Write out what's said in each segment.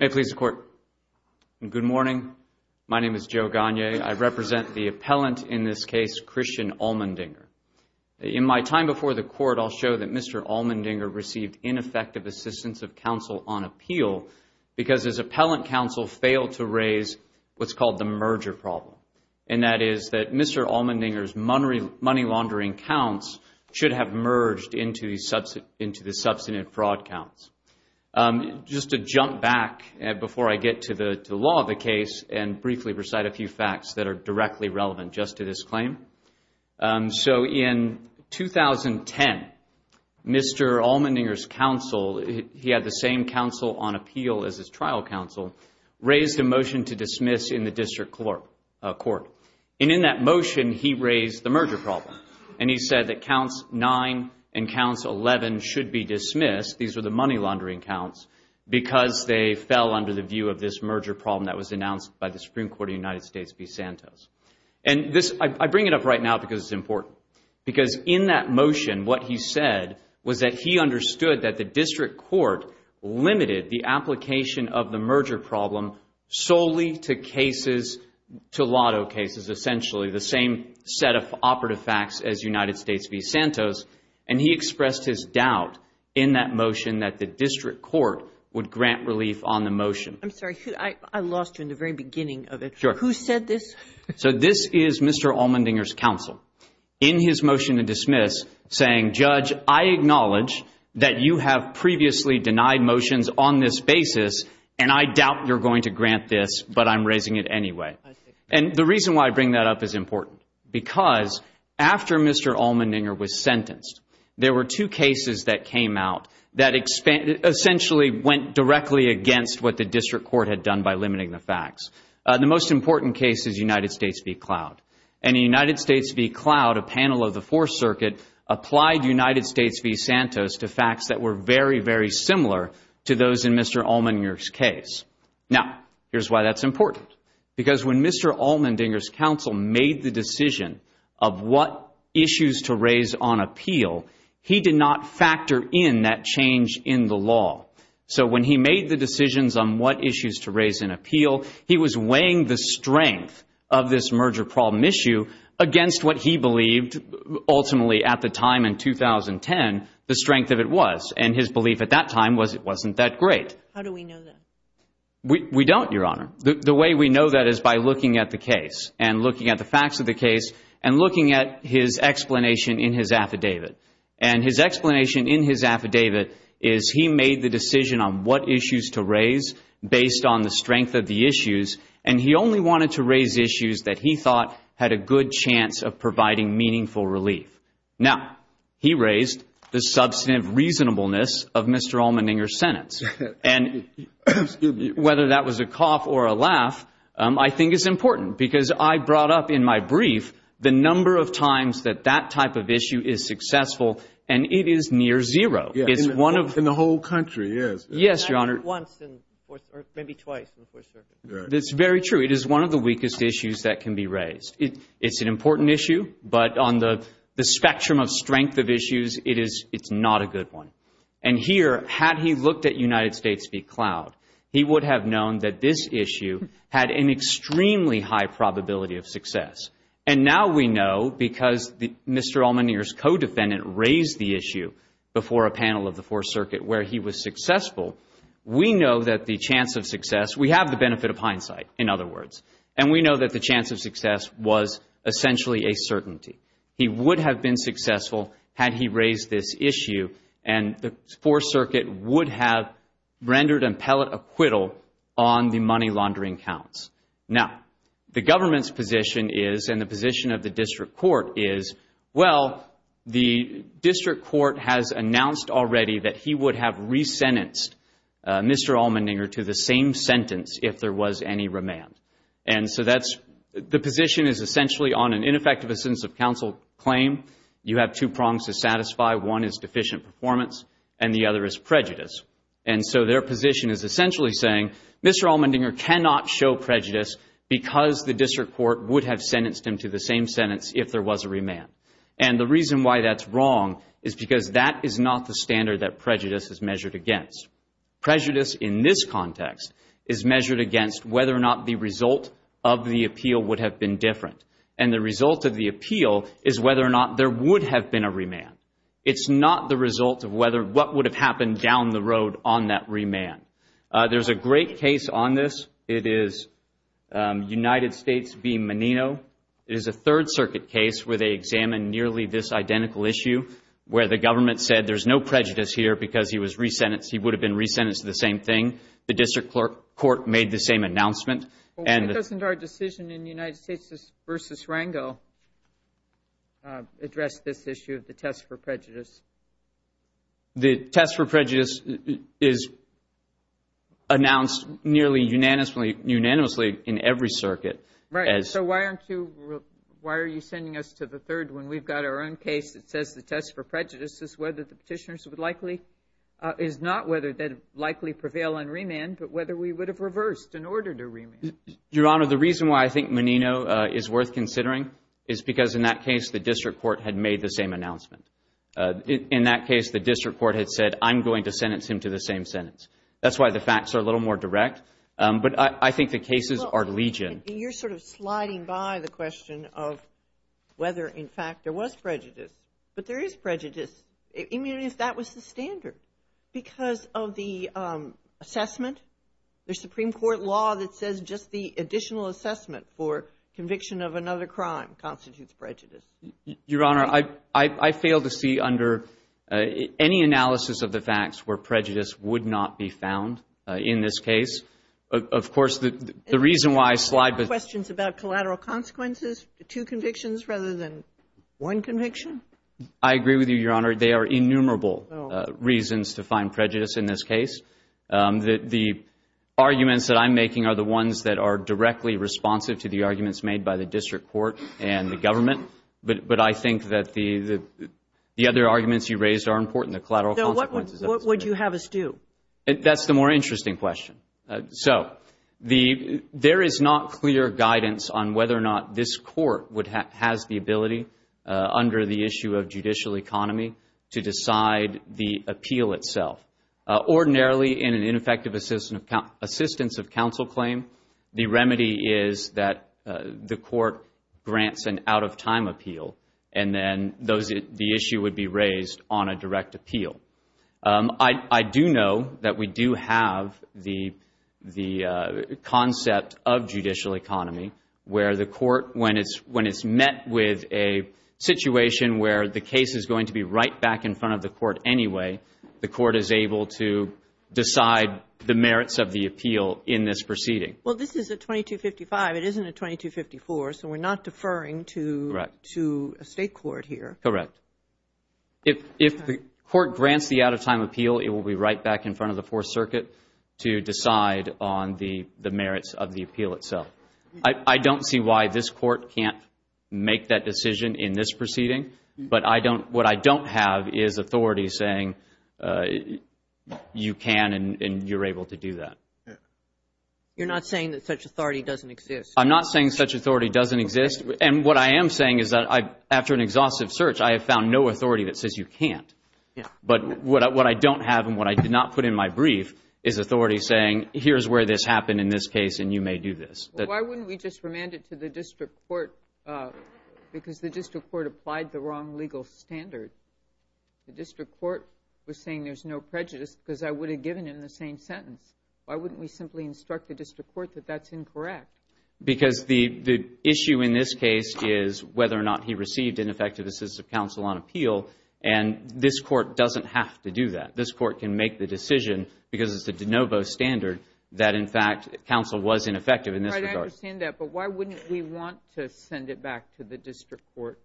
May it please the Court, good morning. My name is Joe Gagne. I represent the appellant in this case, Christian Allmendinger. In my time before the Court, I'll show that Mr. Allmendinger received ineffective assistance of counsel on appeal because his appellant counsel failed to raise what's called the merger problem, and that is that Mr. Allmendinger's money laundering counts should have merged into the substantive fraud counts. Just to jump back before I get to the law of the case and briefly recite a few facts that are directly relevant just to this claim. So in 2010, Mr. Allmendinger's counsel, he had the same counsel on appeal as his trial counsel, raised a motion to dismiss in the District Court, and in that motion he raised the merger problem, and he said that counts 9 and counts 11 should be dismissed, these are the money laundering counts, because they fell under the view of this merger problem that was announced by the Supreme Court of the United States v. Santos. And this, I bring it up right now because it's important, because in that motion what he said was that he understood that the District Court limited the application of the merger problem solely to cases, to lotto cases essentially, the same set of operative facts as United States v. Santos, and he expressed his doubt in that motion that the District Court would grant relief on the motion. I'm sorry, I lost you in the very beginning of it. Who said this? So this is Mr. Allmendinger's counsel in his motion to dismiss saying, Judge, I acknowledge that you have previously denied motions on this basis, and I doubt you're going to grant this, but I'm raising it anyway. And the reason why I bring that up is important, because after Mr. Allmendinger was sentenced, there were two cases that came out that essentially went directly against what the District Court had done by limiting the facts. The most important case is United States v. Cloud, and in United States v. Cloud, a panel of the Fourth Circuit applied United States v. Santos to facts that were very, very similar to those in Mr. Allmendinger's case. Now, here's why that's important, because when Mr. Allmendinger's counsel made the decision of what issues to raise on appeal, he did not factor in that change in the law. So when he made the decisions on what issues to raise in appeal, he was weighing the strength of this merger problem issue against what he believed ultimately at the time in 2010 the strength of it was, and his belief at that time was it wasn't that great. How do we know that? We don't, Your Honor. The way we know that is by looking at the case, and looking at the facts of the case, and looking at his explanation in his affidavit. And his explanation in his affidavit is he made the decision on what issues to raise based on the strength of the issues, and he only wanted to raise issues that he thought had a good chance of providing meaningful relief. Now, he raised the substantive reasonableness of Mr. Allmendinger's sentence, and whether that was a cough or a laugh, I think it's important, because I brought up in my brief the number of times that that type of issue is successful, and it is near zero. Yeah, in the whole country, yes. Yes, Your Honor. Not once or maybe twice in the Fourth Circuit. That's very true. It is one of the weakest issues that can be raised. It's an important issue, but on the spectrum of strength of issues, it's not a good one. And here, had he looked at United known that this issue had an extremely high probability of success, and now we know, because Mr. Allmendinger's co-defendant raised the issue before a panel of the Fourth Circuit where he was successful, we know that the chance of success, we have the benefit of hindsight, in other words, and we know that the chance of success was essentially a certainty. He would have been successful had he raised this issue, and the Fourth Circuit would have rendered impellate acquittal on the money laundering counts. Now, the government's position is, and the position of the district court is, well, the district court has announced already that he would have resentenced Mr. Allmendinger to the same sentence if there was any remand. And so that's, the position is essentially on an ineffective assistance of counsel claim. You have two prongs to satisfy. One is deficient performance, and the other is prejudice. And so their position is essentially saying, Mr. Allmendinger cannot show prejudice because the district court would have sentenced him to the same sentence if there was a remand. And the reason why that's wrong is because that is not the standard that prejudice is measured against. Prejudice in this context is measured against whether or not the result of the appeal would have been different, and the result of the appeal is whether or not there would have been a remand. It's not the result of whether, what would have happened down the road on that remand. There's a great case on this. It is United States v. Menino. It is a Third Circuit case where they examined nearly this identical issue where the government said there's no prejudice here because he was resentenced, he would have been resentenced to the same thing. The district court made the same announcement. Doesn't our decision in United States v. Rango address this issue of the test for prejudice? The test for prejudice is announced nearly unanimously in every circuit. Right. So why aren't you, why are you sending us to the third when we've got our own case that says the test for prejudice is whether the petitioners would likely, is not whether they'd likely prevail on remand, but whether we would have reversed in order to remand? Your Honor, the reason why I think Menino is worth considering is because in that case, the district court had made the same announcement. In that case, the district court had said, I'm going to sentence him to the same sentence. That's why the facts are a little more direct, but I think the cases are legion. You're sort of sliding by the question of whether, in fact, there was prejudice, but there is prejudice. I mean, if that was the standard because of the assessment, the Supreme Court law that says just the additional assessment for conviction of another crime constitutes prejudice. Your Honor, I fail to see under any analysis of the facts where prejudice would not be found in this case. Of course, the reason why I slide by the consequences, two convictions rather than one conviction? I agree with you, Your Honor. They are innumerable reasons to find prejudice in this case. The arguments that I'm making are the ones that are directly responsive to the arguments made by the district court and the government, but I think that the other arguments you raised are important, the collateral consequences. What would you have us do? That's the more interesting question. So, there is not clear guidance on whether or not this court has the ability under the issue of judicial economy to decide the appeal itself. Ordinarily, in an ineffective assistance of counsel claim, the remedy is that the court grants an out-of-time appeal, and then the issue would be raised on a direct appeal. I do know that we do have the concept of judicial economy where the court, when it's met with a situation where the case is going to be right back in front of the court anyway, the court is able to decide the merits of the appeal in this proceeding. Well, this is a 2255. It isn't a 2254, so we're not deferring to a state court here. Correct. If the court grants the out-of-time appeal, it will be right back in front of the Fourth Circuit to decide on the merits of the appeal itself. I don't see why this court can't make that decision in this proceeding, but what I don't have is authority saying you can and you're able to do that. You're not saying that such authority doesn't exist. I'm not saying such authority doesn't exist. And what I am saying is that after an exhaustive search, I have found no authority that says you can't. But what I don't have and what I did not put in my brief is authority saying here's where this happened in this case, and you may do this. Why wouldn't we just remand it to the district court? Because the district court applied the wrong legal standard. The district court was saying there's no prejudice because I would have given him the same sentence. Why wouldn't we simply instruct the district court that that's incorrect? Because the issue in this case is whether or not he received ineffective assistance of counsel on appeal, and this court doesn't have to do that. This court can make the decision because it's the de novo standard that, in fact, counsel was ineffective in this regard. I understand that, but why wouldn't we want to send it back to the district court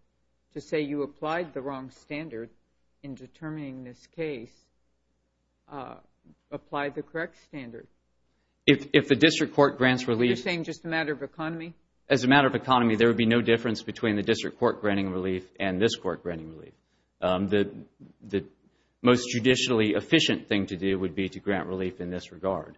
to say you applied the wrong standard in determining this case, applied the correct standard? If the district court grants relief You're saying just a matter of economy? As a matter of economy, there would be no difference between the district court granting relief and this court granting relief. The most judicially efficient thing to do would be to grant relief in this regard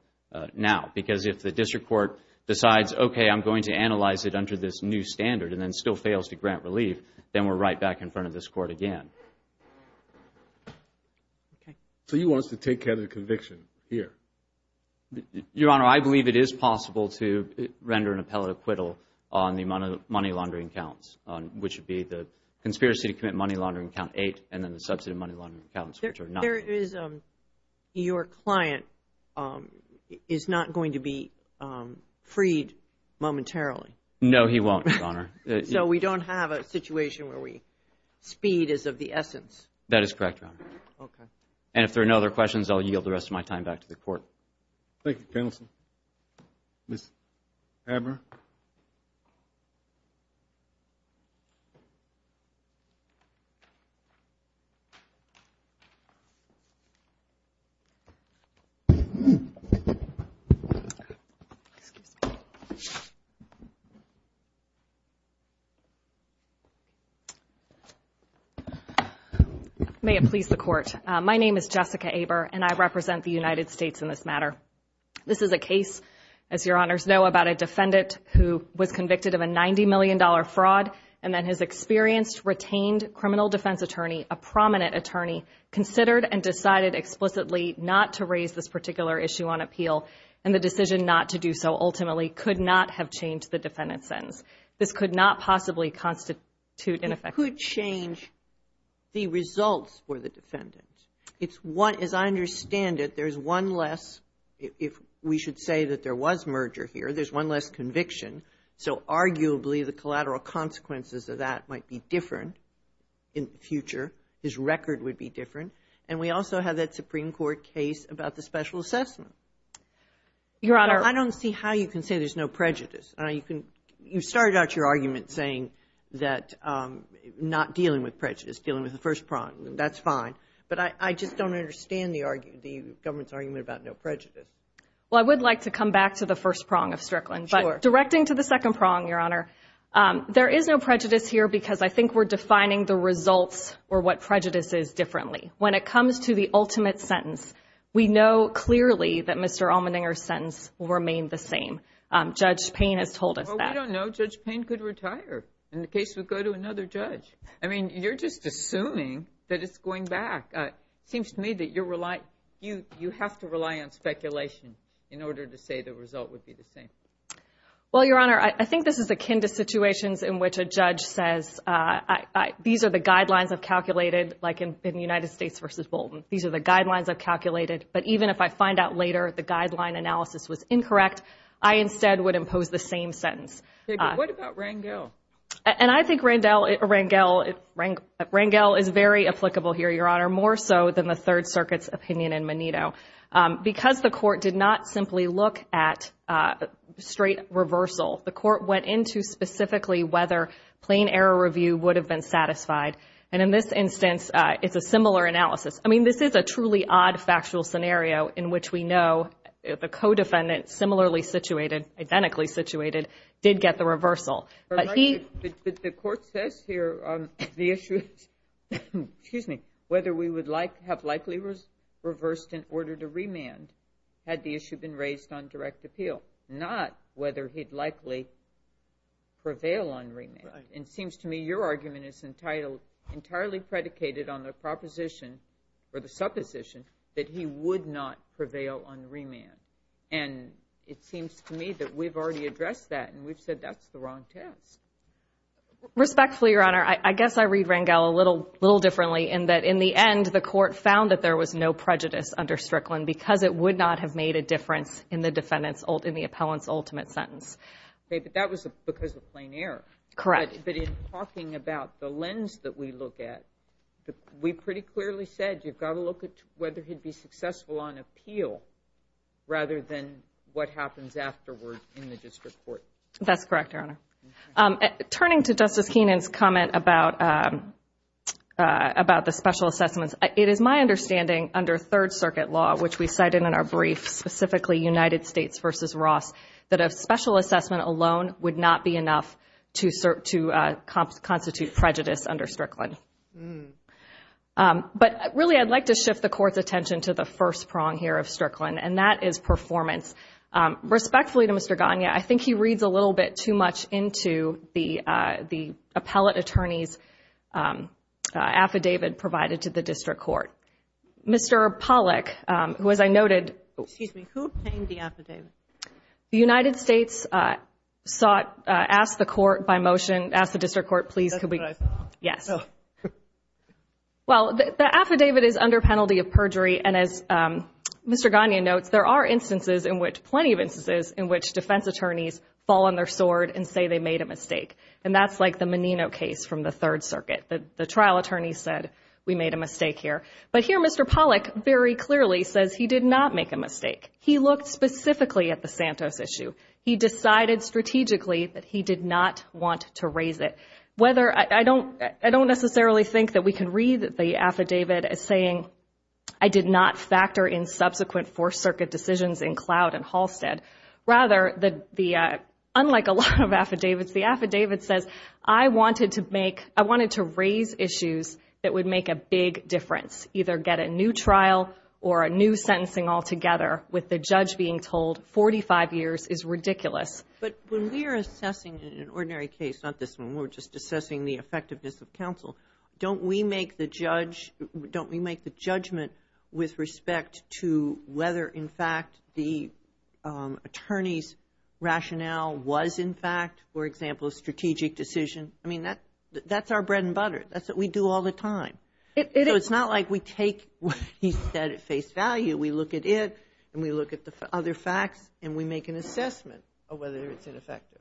now, because if the district court decides, okay, I'm going to analyze it under this new standard and then still fails to grant relief, then we're right back in front of this court again. So you want us to take care of the conviction here? Your Honor, I believe it is possible to render an appellate acquittal on the amount of money laundering counts, which would be the conspiracy to commit money laundering count eight and then the substantive money laundering counts, which are not. There is your client is not going to be freed momentarily. No, he won't, Your Honor. So we don't have a situation where we speed is of the essence. That is correct, Your Honor. Okay. And if there are no other questions, I'll yield the rest of my time back to the court. Thank you, counsel. Ms. Haber. May it please the court. My name is Jessica Haber, and I represent the United States in this matter. This is a case, as your honors know, about a defendant who was convicted of a $90 million fraud and then has experienced, retained criminal defense attorney, a prominent attorney, considered and decided explicitly not to raise this particular issue on appeal. And the decision not to do so ultimately could not have changed the defendant's sentence. This could not possibly constitute in effect. Could change the results for the defendant. It's one, as I understand it, there's one less, if we should say that there was merger here, there's one less conviction. So arguably, the collateral consequences of that might be different in the future. His record would be different. And we also have that Supreme Court case about the special assessment. Your Honor. I don't see how you can say there's no prejudice. You started out your argument saying that not dealing with prejudice, dealing with the first prong. That's fine. But I just don't understand the government's argument about no prejudice. Well, I would like to come back to the first prong of Strickland. Sure. But directing to the second prong, Your Honor, there is no prejudice here because I think we're defining the results or what prejudice is differently. When it comes to the ultimate sentence, we know clearly that Mr. Allmendinger's sentence will remain the same. Judge Payne has told us that. Well, we don't know. Judge Payne could retire. In the case, we'd go to another judge. I mean, you're just assuming that it's going back. Seems to me that you have to rely on speculation in order to say the result would be the same. Well, Your Honor, I think this is akin to situations in which a judge says, these are the guidelines I've calculated, like in United States versus Bolton. These are the guidelines I've calculated. But even if I find out later the guideline analysis was incorrect, I instead would impose the same sentence. What about Rangel? And I think Rangel is very applicable here, Your Honor, more so than the Third Circuit's opinion in Menino. Because the court did not simply look at straight reversal, the court went into specifically whether plain error review would have been satisfied. And in this instance, it's a similar analysis. I mean, this is a truly odd factual scenario in which we know the co-defendant, similarly situated, identically situated, did get the reversal. But the court says here the issue is whether we would have likely reversed in order to remand had the issue been raised on direct appeal, not whether he'd likely prevail on remand. It seems to me your argument is entirely predicated on the proposition or the supposition that he would not prevail on remand. And it seems to me that we've already addressed that and we've said that's the wrong test. Respectfully, Your Honor, I guess I read Rangel a little differently in that in the end, the court found that there was no prejudice under Strickland because it would not have made a difference in the defendant's, in the appellant's ultimate sentence. But that was because of plain error. Correct. But in talking about the lens that we look at, we pretty clearly said you've got to look at whether he'd be successful on appeal rather than what happens afterward in the district court. That's correct, Your Honor. Turning to Justice Keenan's comment about the special assessments, it is my understanding under Third Circuit law, which we cited in our brief, specifically United States v. Ross, that a special assessment alone would not be enough to constitute prejudice under Strickland. But really, I'd like to shift the court's attention to the first prong here of Strickland, and that is performance. Respectfully to Mr. Gagne, I think he reads a little bit too much into the appellate attorney's affidavit provided to the district court. Mr. Pollack, who, as I noted— Excuse me. Who obtained the affidavit? The United States sought—asked the court by motion—asked the district court, please could we— That's what I thought. Yes. Well, the affidavit is under penalty of perjury, and as Mr. Gagne notes, there are instances in which—plenty of instances in which defense attorneys fall on their sword and say they made a mistake. And that's like the Menino case from the Third Circuit. The trial attorney said, we made a mistake here. But here, Mr. Pollack very clearly says he did not make a mistake. He looked specifically at the Santos issue. He decided strategically that he did not want to raise it. Whether—I don't necessarily think that we can read the affidavit as saying, I did not factor in subsequent Fourth Circuit decisions in Cloud and Halstead. Rather, unlike a lot of affidavits, the affidavit says, I wanted to make—I wanted to raise issues that would make a big difference, either get a new trial or a new sentencing altogether, with the judge being told 45 years is ridiculous. But when we're assessing an ordinary case, not this one, we're just assessing the effectiveness of counsel. Don't we make the judge—don't we make the judgment with respect to whether, in fact, the attorney's rationale was, in fact, for example, a strategic decision? I mean, that's our bread and butter. That's what we do all the time. So it's not like we take what he said at face value. We look at it, and we look at the other facts, and we make an assessment of whether it's ineffective.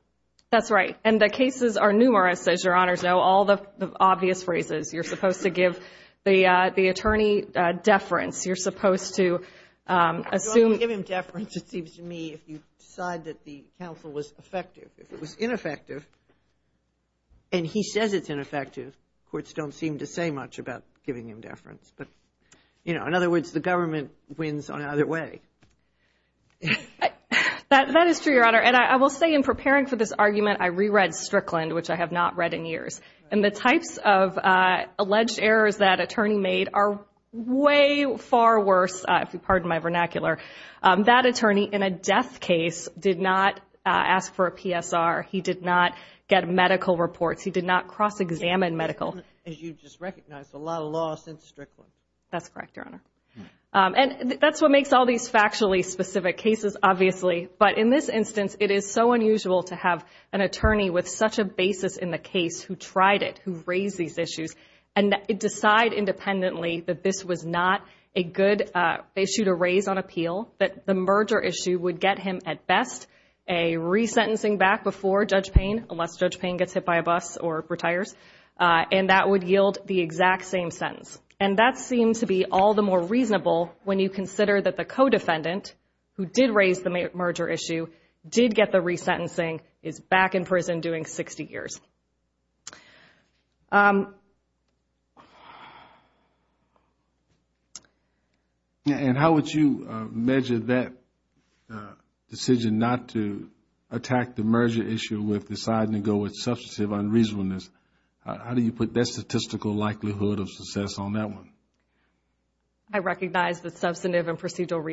That's right. And the cases are numerous, as Your Honors know. All the obvious phrases. You're supposed to give the attorney deference. You're supposed to assume— You don't give him deference, it seems to me, If it was ineffective, and he says it's ineffective, courts don't seem to say much about giving him deference. But, you know, in other words, the government wins on either way. That is true, Your Honor. And I will say, in preparing for this argument, I reread Strickland, which I have not read in years. And the types of alleged errors that attorney made are way far worse, if you pardon my vernacular. That attorney, in a death case, did not ask for a PSR. He did not get medical reports. He did not cross-examine medical. As you just recognized, a lot of law since Strickland. That's correct, Your Honor. And that's what makes all these factually specific cases, obviously. But in this instance, it is so unusual to have an attorney with such a basis in the case who tried it, who raised these issues, and decide independently that this was not a good issue to raise on appeal, that the merger issue would get him, at best, a resentencing back before Judge Payne, unless Judge Payne gets hit by a bus or retires, and that would yield the exact same sentence. And that seems to be all the more reasonable when you consider that the co-defendant, who did raise the merger issue, did get the resentencing, is back in prison doing 60 years. And how would you measure that decision not to attack the merger issue with deciding to go with substantive unreasonableness? How do you put that statistical likelihood of success on that one? I recognize that substantive and procedural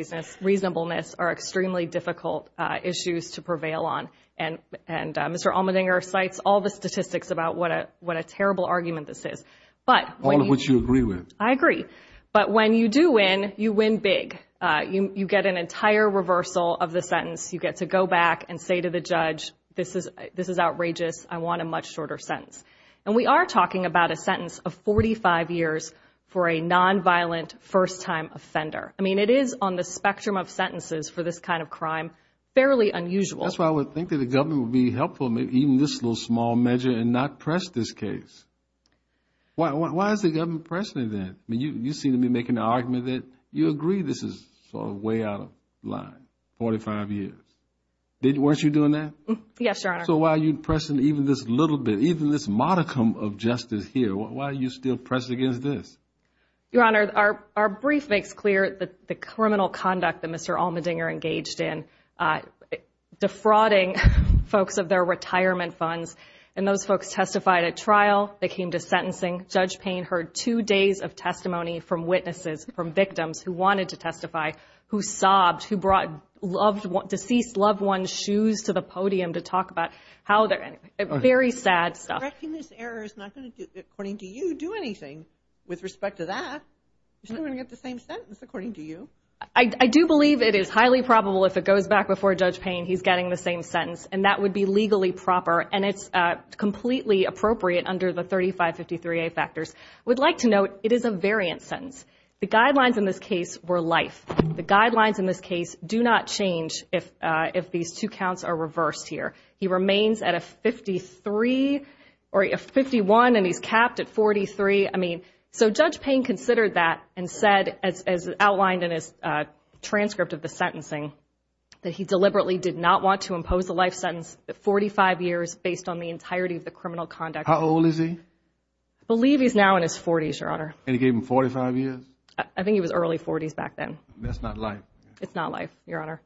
reasonableness are extremely difficult issues to prevail on. And Mr. Allmendinger cites all the statistics about what a terrible argument this is. All of which you agree with. I agree. But when you do win, you win big. You get an entire reversal of the sentence. You get to go back and say to the judge, this is outrageous, I want a much shorter sentence. And we are talking about a sentence of 45 years for a nonviolent first-time offender. I mean, it is, on the spectrum of sentences for this kind of crime, fairly unusual. That's why I would think that the government would be helpful, even this little small measure, in not press this case. Why is the government pressing it then? I mean, you seem to be making the argument that you agree this is sort of way out of line, 45 years. Weren't you doing that? Yes, Your Honor. So why are you pressing even this little bit, even this modicum of justice here? Why are you still pressing against this? Your Honor, our brief makes clear that the criminal conduct that Mr. Allmendinger engaged in, defrauding folks of their retirement funds. And those folks testified at trial. They came to sentencing. Judge Payne heard two days of testimony from witnesses, from victims who wanted to testify, who sobbed, who brought deceased loved ones' shoes to the podium to talk about how they're in. Very sad stuff. Correcting this error is not going to, according to you, do anything with respect to that. It's not going to get the same sentence, according to you. I do believe it is highly probable if it goes back before Judge Payne, he's getting the same sentence. And that would be legally proper. And it's completely appropriate under the 3553A factors. I would like to note, it is a variant sentence. The guidelines in this case were life. The guidelines in this case do not change if these two counts are reversed here. He remains at a 53 or a 51 and he's capped at 43. I mean, so Judge Payne considered that and said, as outlined in his transcript of the sentencing, that he deliberately did not want to impose a life sentence at 45 years based on the entirety of the criminal conduct. How old is he? I believe he's now in his 40s, Your Honor. And he gave him 45 years? I think he was early 40s back then. That's not life. It's not life, Your Honor,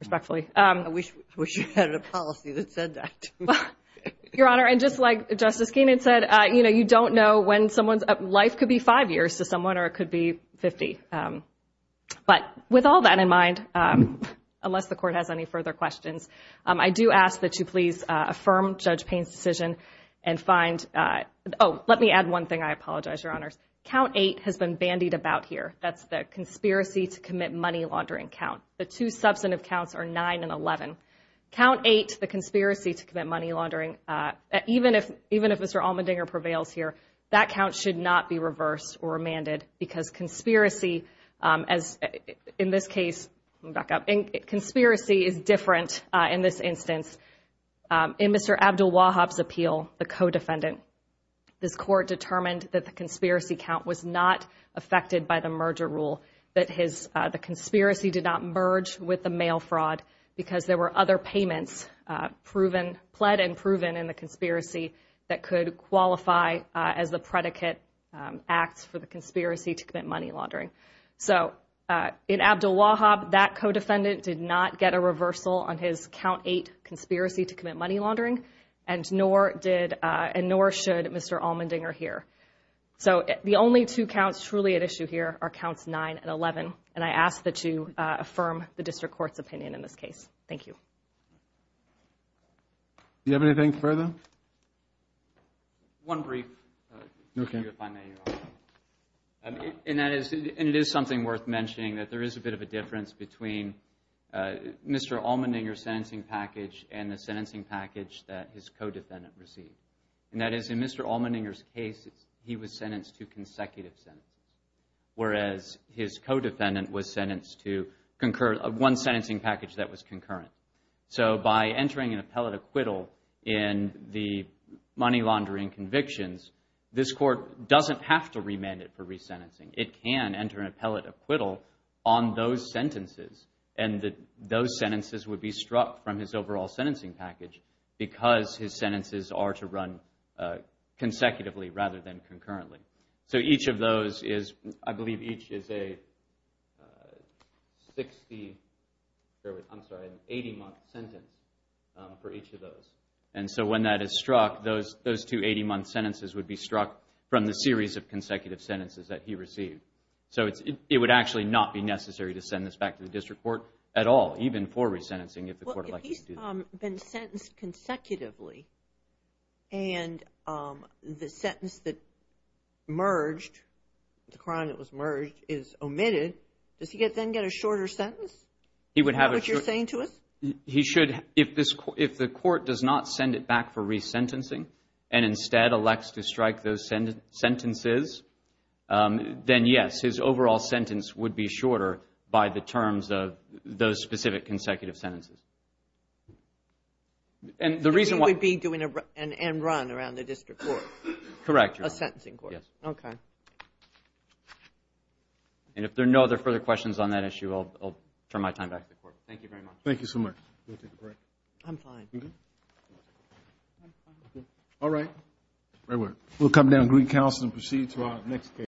respectfully. I wish you had a policy that said that. Your Honor, and just like Justice Keenan said, you know, you don't know when someone's life could be five years to someone or it could be 50. But with all that in mind, unless the court has any further questions, I do ask that you please affirm Judge Payne's decision and find, oh, let me add one thing. I apologize, Your Honors. Count 8 has been bandied about here. That's the conspiracy to commit money laundering count. The two substantive counts are 9 and 11. Count 8, the conspiracy to commit money laundering, even if Mr. Allmendinger prevails here, that count should not be reversed or remanded because conspiracy, as in this case, back up, conspiracy is different in this instance. In Mr. Abdulwahab's appeal, the co-defendant, this court determined that the conspiracy count was not affected by the merger rule, that the conspiracy did not merge with the mail fraud because there were other payments pled and proven in the conspiracy that could qualify as the predicate acts for the conspiracy to commit money laundering. So in Abdulwahab, that co-defendant did not get a reversal on his count 8 conspiracy to commit money laundering, and nor should Mr. Allmendinger here. So the only two counts truly at issue here are counts 9 and 11, and I ask that you affirm the district court's opinion in this case. Thank you. Do you have anything further? One brief. And it is something worth mentioning that there is a bit of a difference between Mr. Allmendinger's sentencing package and the sentencing package that his co-defendant received. And that is in Mr. Allmendinger's case, he was sentenced to consecutive sentences, whereas his co-defendant was sentenced to one sentencing package that was concurrent. So by entering an appellate acquittal in the money laundering convictions, this court doesn't have to remand it for resentencing. It can enter an appellate acquittal on those sentences, and those sentences would be struck from his overall sentencing package because his sentences are to run consecutively rather than concurrently. So each of those is, I believe each is a 60, I'm sorry, an 80-month sentence for each of those. And so when that is struck, those two 80-month sentences would be struck from the series of consecutive sentences that he received. So it would actually not be necessary to send this back to the district court at all, even for resentencing if the court elects to do that. Well, if he's been sentenced consecutively and the sentence that merged, the crime that was merged is omitted, does he then get a shorter sentence? Is that what you're saying to us? He should, if the court does not send it back for resentencing and instead elects to strike those sentences, then yes, his overall sentence would be shorter by the terms of those specific consecutive sentences. And the reason why- He would be doing an end run around the district court. Correct. A sentencing court. Yes. Okay. And if there are no other further questions on that issue, I'll turn my time back to the court. Thank you very much. Thank you so much. I'm fine. All right, we'll come down to Green Council and proceed to our next case.